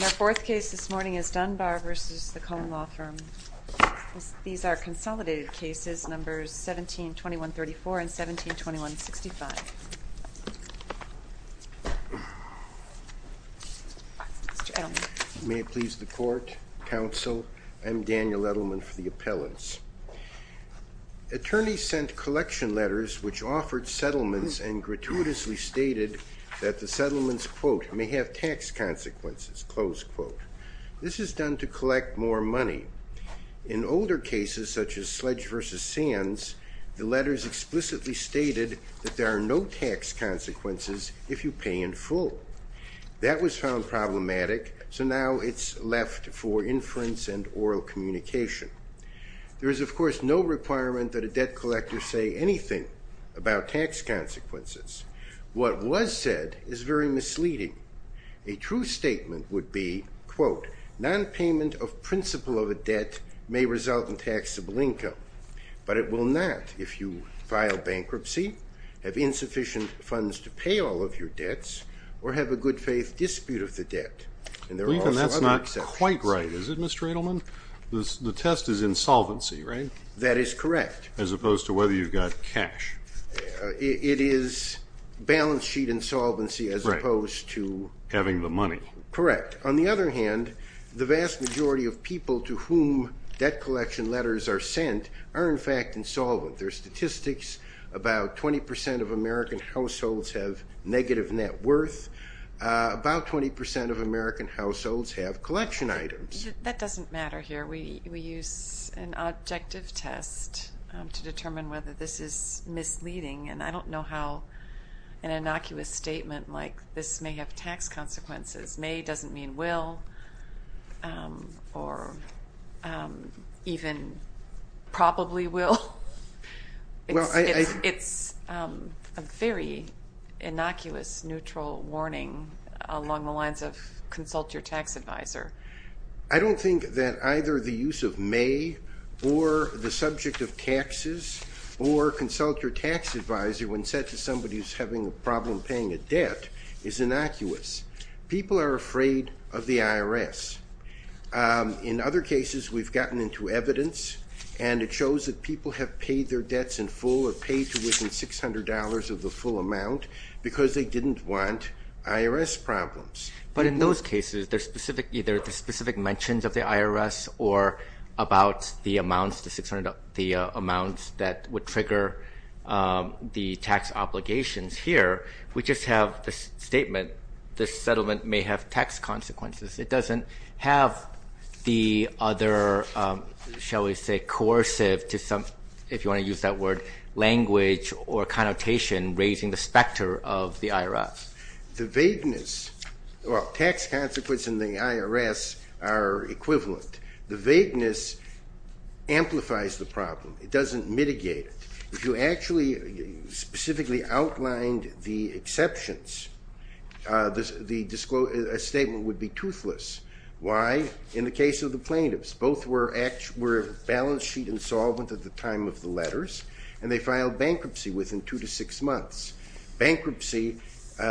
Our fourth case this morning is Dunbar v. Kohn Law Firm. These are consolidated cases, numbers 17-2134 and 17-2165. May it please the court, counsel, I'm Daniel Edelman for the appellants. Attorneys sent collection letters which offered settlements and gratuitously stated that the settlements, quote, may have tax consequences, close quote. This is done to collect more money. In older cases such as Sledge v. Sands, the letters explicitly stated that there are no tax consequences if you pay in full. That was found problematic, so now it's left for inference and oral communication. There is, of course, no requirement that a debt collector say anything about tax consequences. What was said is very misleading. A true statement would be, quote, non-payment of principle of a debt may result in taxable income, but it will not if you file bankruptcy, have insufficient funds to pay all of your debts, or have a good-faith dispute of the debt. And there are also other exceptions. Quite right, is it, Mr. Edelman? The test is insolvency, right? That is correct. As opposed to whether you've got cash. It is balance sheet insolvency as opposed to... Having the money. Correct. On the other hand, the vast majority of people to whom debt collection letters are sent are, in fact, insolvent. There's statistics about 20% of American households have negative net worth. About 20% of American That doesn't matter here. We use an objective test to determine whether this is misleading, and I don't know how an innocuous statement like this may have tax consequences. May doesn't mean will, or even probably will. It's a very I don't think that either the use of may, or the subject of taxes, or consult your tax advisor when said to somebody who's having a problem paying a debt, is innocuous. People are afraid of the IRS. In other cases, we've gotten into evidence, and it shows that people have paid their debts in full, or paid to within $600 of the full amount, because they didn't want IRS problems. But in those cases, there's specific mentions of the IRS, or about the amounts, the 600, the amounts that would trigger the tax obligations. Here, we just have this statement. This settlement may have tax consequences. It doesn't have the other, shall we say, coercive to some, if you want to use that word, language or connotation, raising the specter of the IRS. The vagueness, well, tax consequence and the IRS are equivalent. The vagueness amplifies the problem. It doesn't mitigate it. If you actually specifically outlined the exceptions, the statement would be toothless. Why? In the case of the plaintiffs, both were balance sheet insolvent at the time of the letters, and they were in there for two to six months. Bankruptcy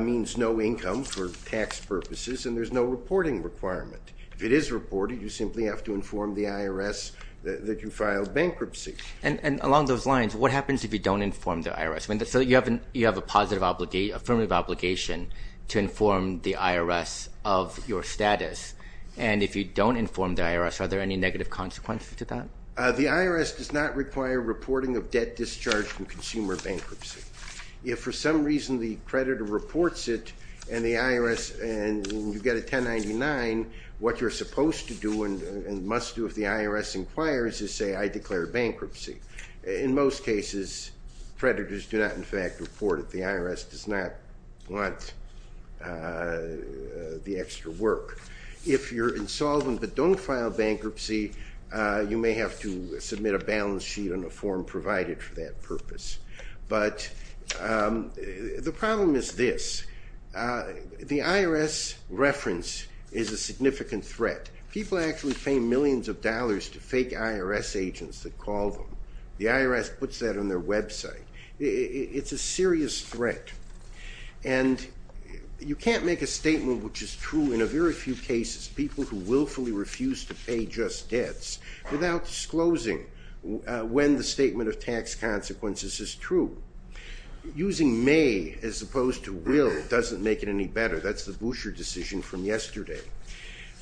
means no income for tax purposes, and there's no reporting requirement. If it is reported, you simply have to inform the IRS that you filed bankruptcy. And along those lines, what happens if you don't inform the IRS? So you have a positive, affirmative obligation to inform the IRS of your status, and if you don't inform the IRS, are there any negative consequences to that? The IRS does not require reporting of debt discharged from consumer bankruptcy. If for some reason the creditor reports it, and the IRS, and you get a 1099, what you're supposed to do and must do if the IRS inquires is say, I declare bankruptcy. In most cases, creditors do not, in fact, report it. The IRS does not want the extra work. If you're insolvent but don't file bankruptcy, you may have to submit a balance sheet on the form provided for that purpose. But the problem is this. The IRS reference is a significant threat. People actually pay millions of dollars to fake IRS agents that call them. The IRS puts that on their website. It's a serious threat, and you can't make a statement which is true in a very few cases. People who willfully refuse to pay just debts without disclosing when the statement of tax consequences is true. Using may as opposed to will doesn't make it any better. That's the Boucher decision from yesterday.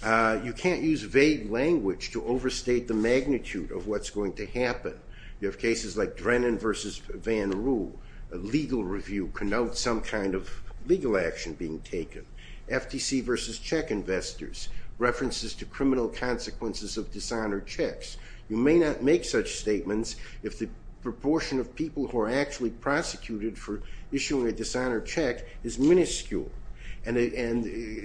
You can't use vague language to overstate the magnitude of what's going to happen. You have cases like Drennan versus Van Roo, a legal review connotes some kind of legal action being taken. FTC versus check investors. References to criminal consequences of dishonored checks. You may not make such statements if the proportion of people who are actually prosecuted for issuing a dishonored check is minuscule. And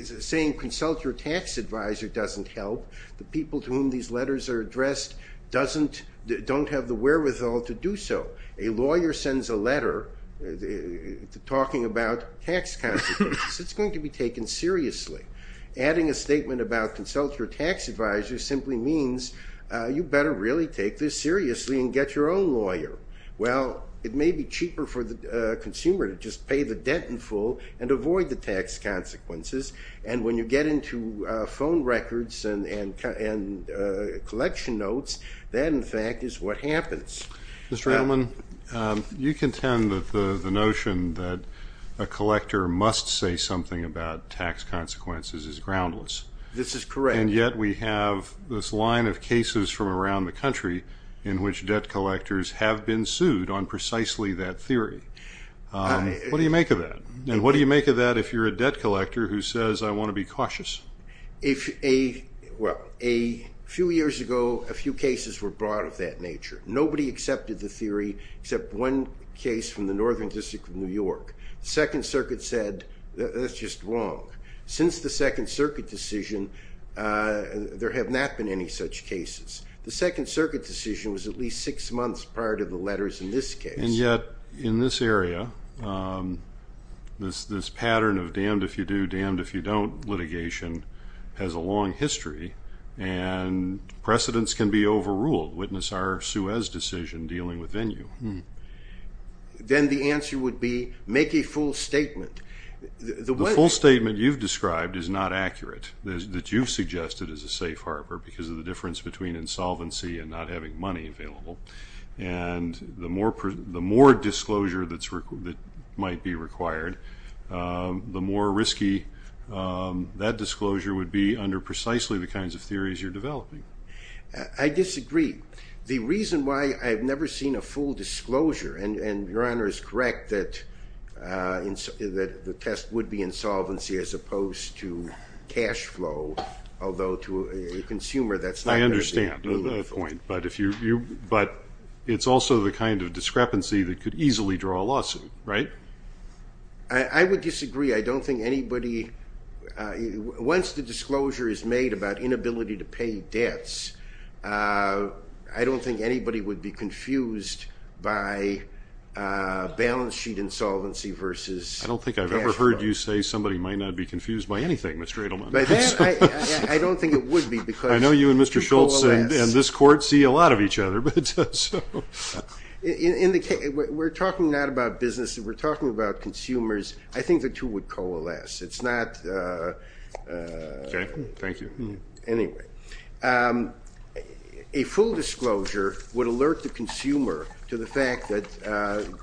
saying consult your tax advisor doesn't help. The people to whom these letters are addressed don't have the wherewithal to do so. A lawyer sends a letter talking about tax consequences. It's going to be taken seriously. Adding a statement about consult your tax advisor simply means you better really take this seriously and get your own lawyer. Well, it may be cheaper for the consumer to just pay the debt in full and avoid the tax consequences. And when you get into phone records and collection notes, that in fact is what happens. Mr. Ellman, you contend that the must say something about tax consequences is groundless. This is correct. And yet we have this line of cases from around the country in which debt collectors have been sued on precisely that theory. What do you make of that? And what do you make of that if you're a debt collector who says I want to be cautious? A few years ago, a few cases were brought of that nature. Nobody accepted the theory except one case from the northern district of New York that said that's just wrong. Since the Second Circuit decision, there have not been any such cases. The Second Circuit decision was at least six months prior to the letters in this case. And yet in this area, this pattern of damned if you do, damned if you don't litigation has a long history and precedents can be overruled. Witness our Suez decision dealing with venue. Then the answer would be make a full statement. The full statement you've described is not accurate. That you've suggested is a safe harbor because of the difference between insolvency and not having money available. And the more disclosure that might be required, the more risky that disclosure would be under precisely the kinds of theories you're developing. I disagree. The reason why I've never seen a full disclosure, and your honor is correct, that the test would be insolvency as opposed to cash flow, although to a consumer that's not... I understand the point, but it's also the kind of discrepancy that could easily draw a lawsuit, right? I would disagree. I don't think anybody, once the disclosure is made about inability to balance sheet insolvency versus cash flow. I don't think I've ever heard you say somebody might not be confused by anything, Mr. Edelman. I don't think it would be because... I know you and Mr. Schultz and this court see a lot of each other. We're talking not about business, we're talking about consumers. I think the two would coalesce. It's not... Okay, thank you. Anyway, a full disclosure would alert the consumer to the fact that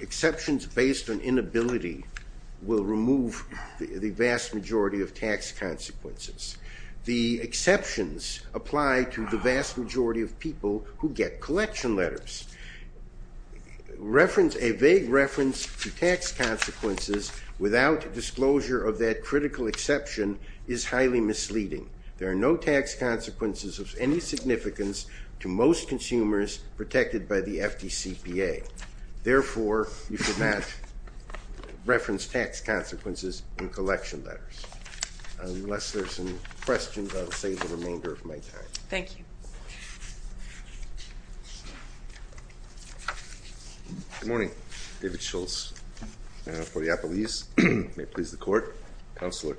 exceptions based on inability will remove the vast majority of tax consequences. The exceptions apply to the vast majority of people who get collection letters. A vague reference to tax consequences without disclosure of that critical exception is highly misleading. There are no tax consequences in the CPA. Therefore, you should not reference tax consequences in collection letters. Unless there's some questions, I'll save the remainder of my time. Thank you. Good morning. David Schultz for the Applebee's. May it please the court, Counselor.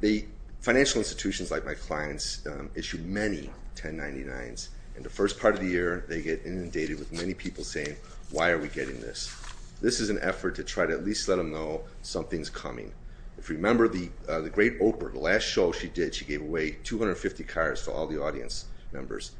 The financial institutions like my clients issue many 1099s, and the first part of the year they get inundated with many people saying, why are we getting this? This is an effort to try to at least let them know something's coming. If you remember the great Oprah, the last show she did, she gave away 250 cars for all the audience members.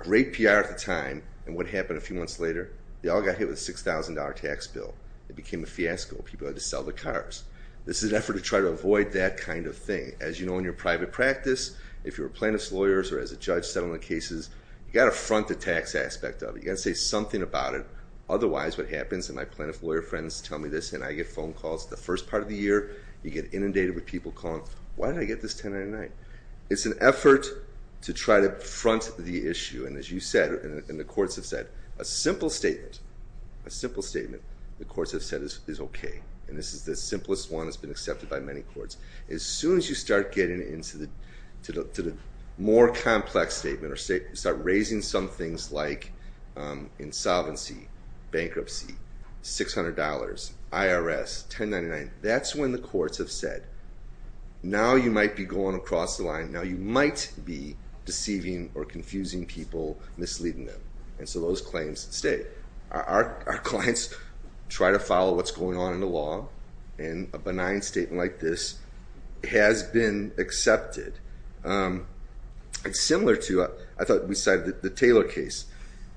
Great PR at the time, and what they all got hit with a $6,000 tax bill. It became a fiasco. People had to sell the cars. This is an effort to try to avoid that kind of thing. As you know in your private practice, if you're a plaintiff's lawyer or as a judge, settlement cases, you got to front the tax aspect of it. You got to say something about it. Otherwise, what happens, and my plaintiff's lawyer friends tell me this, and I get phone calls the first part of the year. You get inundated with people calling, why did I get this 1099? It's an effort to try to front the issue, and as you said, and the courts have said, a simple statement, a simple statement, the courts have said is okay, and this is the simplest one that's been accepted by many courts. As soon as you start getting into the more complex statement or start raising some things like insolvency, bankruptcy, $600, IRS, 1099, that's when the courts have said, now you might be going across the people misleading them, and so those claims stay. Our clients try to follow what's going on in the law, and a benign statement like this has been accepted. It's similar to, I thought we cited the Taylor case,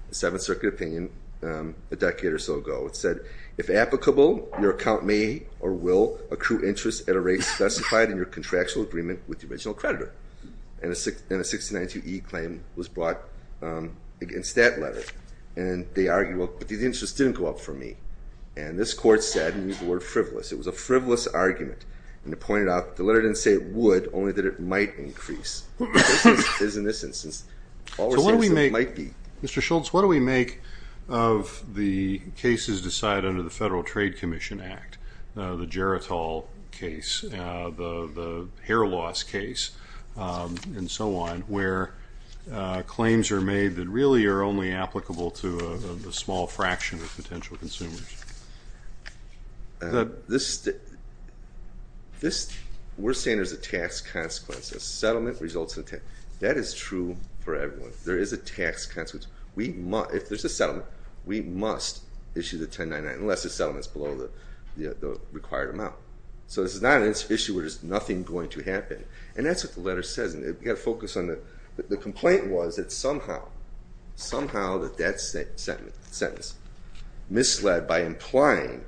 the Seventh Circuit opinion, a decade or so ago. It said, if applicable, your account may or will accrue interest at a rate specified in your contractual agreement with the against that letter, and they argue, well, but the interest didn't go up for me, and this court said, and we use the word frivolous, it was a frivolous argument, and it pointed out, the letter didn't say it would, only that it might increase, as in this instance, all we're saying is it might be. So what do we make, Mr. Schultz, what do we make of the cases decided under the Federal Trade Commission Act, the Geritol case, the claims are made that really are only applicable to a small fraction of potential consumers? This, we're saying there's a tax consequence, a settlement results in a tax, that is true for everyone. There is a tax consequence, we must, if there's a settlement, we must issue the 1099, unless the settlement's below the required amount. So this is not an issue where there's nothing going to happen, and that's what the letter says, and we've got to focus on the, the complaint was that somehow, somehow that that sentence misled by implying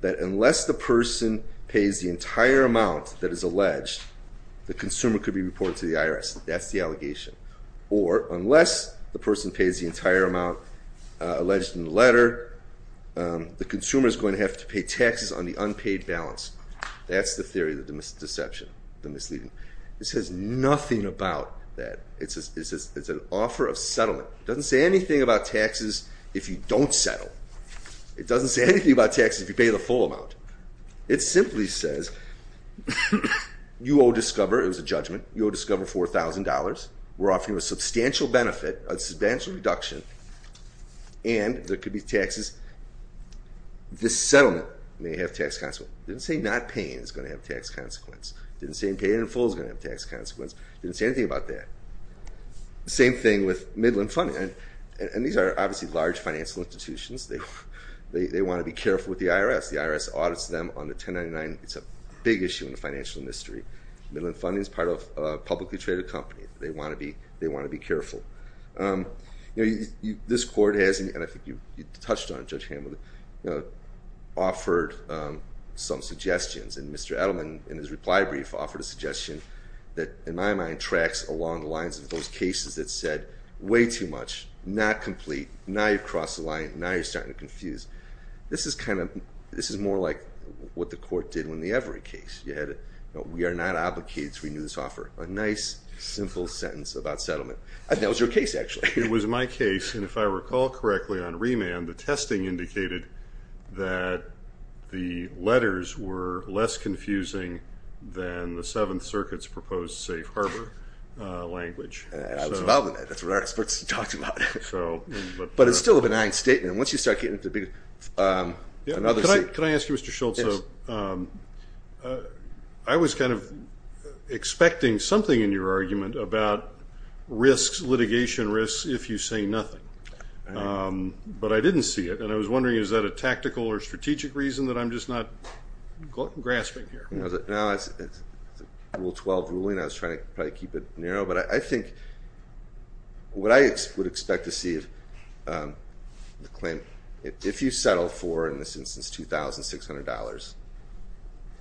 that unless the person pays the entire amount that is alleged, the consumer could be reported to the IRS, that's the allegation, or unless the person pays the entire amount alleged in the letter, the consumer is going to have to pay taxes on the unpaid balance, that's the theory of the deception, the misleading. It says nothing about that, it's a, it's a, it's an offer of settlement, it doesn't say anything about taxes if you don't settle, it doesn't say anything about taxes if you pay the full amount, it simply says you owe Discover, it was a judgment, you owe Discover $4,000, we're offering you a substantial benefit, a substantial reduction, and there could be taxes, this settlement may have tax consequence, didn't say not paying is going to have tax consequence, didn't say paying in full is going to have tax consequence, didn't say anything about that. Same thing with Midland Funding, and these are obviously large financial institutions, they want to be careful with the IRS, the IRS audits them on the 1099, it's a big issue in the financial industry. Midland Funding is part of a publicly traded company, they want to be, they want to be careful. You know, this court has, and I think you touched on it, Judge Hamilton, offered some suggestions and Mr. Edelman in his reply brief offered a suggestion that, in my mind, tracks along the lines of those cases that said way too much, not complete, now you've crossed the line, now you're starting to confuse. This is kind of, this is more like what the court did when the Everett case, you had, we are not obligated to renew this offer, a nice simple sentence about settlement. That was your case actually. It was my case, and if I recall correctly on remand, the testing indicated that the letters were less confusing than the Seventh Circuit's proposed safe harbor language. I was involved in that, that's what our experts talked about. But it's still a benign statement, once you start getting into the big... Can I ask you, Mr. Schultz, I was kind of expecting something in your argument about risks, litigation risks, if you say nothing, but I didn't see it, and I was wondering is that a tactical or grasping here? No, it's a Rule 12 ruling, I was trying to probably keep it narrow, but I think what I would expect to see is the claim, if you settle for, in this instance, $2,600,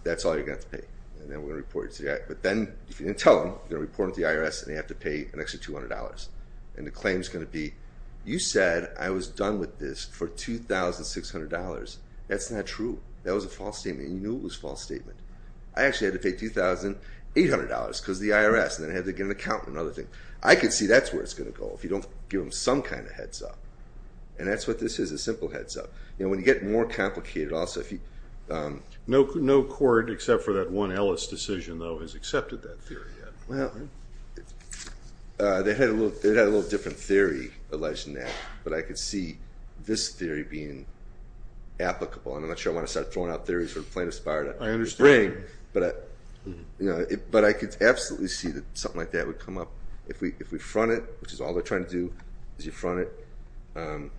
that's all you're going to have to pay, and then we're going to report it to the IRS. But then, if you didn't tell them, you're going to report it to the IRS and they have to pay an extra $200, and the claim is going to be, you said I was done with this for $2,600, that's not true. That was a false statement, and you knew it was a false statement. I actually had to pay $2,800 because of the IRS, and then I had to get an accountant and other things. I could see that's where it's going to go, if you don't give them some kind of heads-up, and that's what this is, a simple heads-up. You know, when you get more complicated also, if you... No court, except for that one Ellis decision, though, has accepted that theory yet. Well, they had a little different theory alleged in that, but I could see this theory being applicable, and I'm not sure I want to start throwing out theories from plaintiff's department. I understand. But I could absolutely see that something like that would come up. If we front it, which is all they're trying to do, is you front it,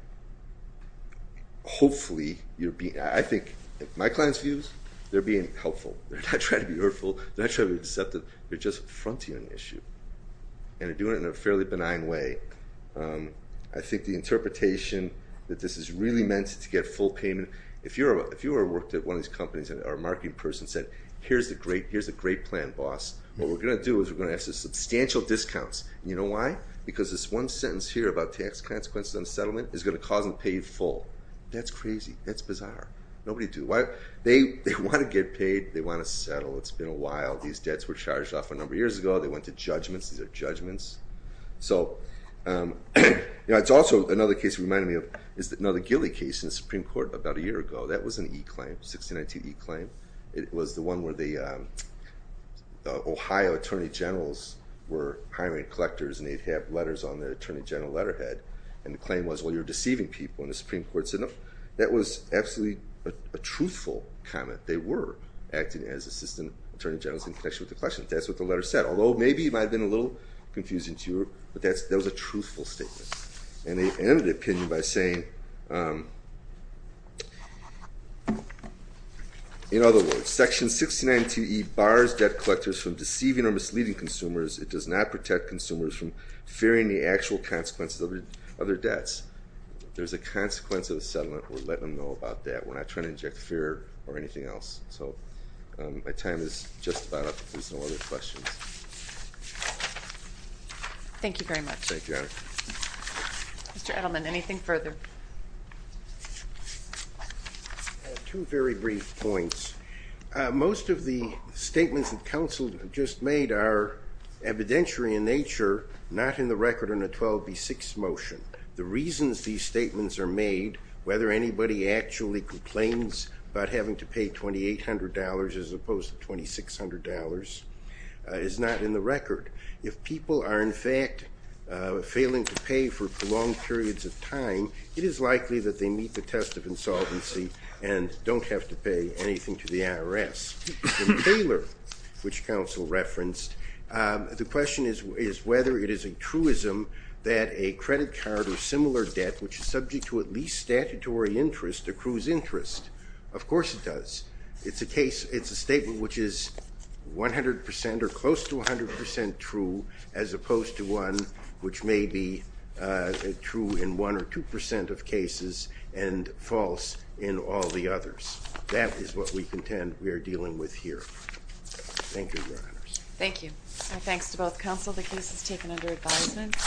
hopefully you're being... I think my client's views, they're being helpful. They're not trying to be hurtful. They're not trying to be deceptive. They're just fronting an issue, and they're doing it in a fairly benign way. I think the interpretation that this is really meant to get full payment... If you ever worked at one of these companies, or a marketing person said, here's a great plan, boss. What we're going to do is we're going to ask for substantial discounts. You know why? Because this one sentence here about tax consequences on settlement is going to cause them to pay full. That's crazy. That's bizarre. Nobody do... They want to get paid. They want to settle. It's been a while. These debts were charged off a number of years ago. They went to judgments. These are judgments. So, you know, it's also another case that reminded me of another Gilley case in the Supreme Court about a year ago. That was an e-claim, 1692 e-claim. It was the one where the Ohio attorney generals were hiring collectors, and they'd have letters on the attorney general letterhead, and the claim was, well, you're deceiving people, and the Supreme Court said no. That was absolutely a truthful comment. They were acting as assistant attorney generals in connection with the question. That's what the letter said, although maybe it might have been a little confusing to you, but that was a truthful statement, and they ended the opinion by saying, in other words, section 1692e bars debt collectors from deceiving or misleading consumers. It does not protect consumers from fearing the actual consequences of their debts. There's a consequence of the settlement. We're letting them know about that. We're not trying to inject fear or anything else. So my time is just about up. If there's no other questions. Thank you very much. Thank you. Mr. Edelman, anything further? Two very brief points. Most of the statements that Council just made are evidentiary in nature, not in the record in a 12b6 motion. The reasons these statements are made, whether anybody actually complains about having to pay $2,800 as opposed to $2,600, is not in the record. If people are in fact failing to pay for prolonged periods of time, it is likely that they meet the test of insolvency and don't have to pay anything to the IRS. In Taylor, which Council referenced, the question is whether it is a truism that a credit card or similar debt which is subject to at least statutory interest accrues interest. Of course it does. It's a case, it's a statement which is 100% or close to 100% true as opposed to one which may be true in one or two percent of cases and false in all the others. That is what we contend we are dealing with here. Thank you, Your Honours. Thank you. Thanks to both Council. The case is taken under advisement.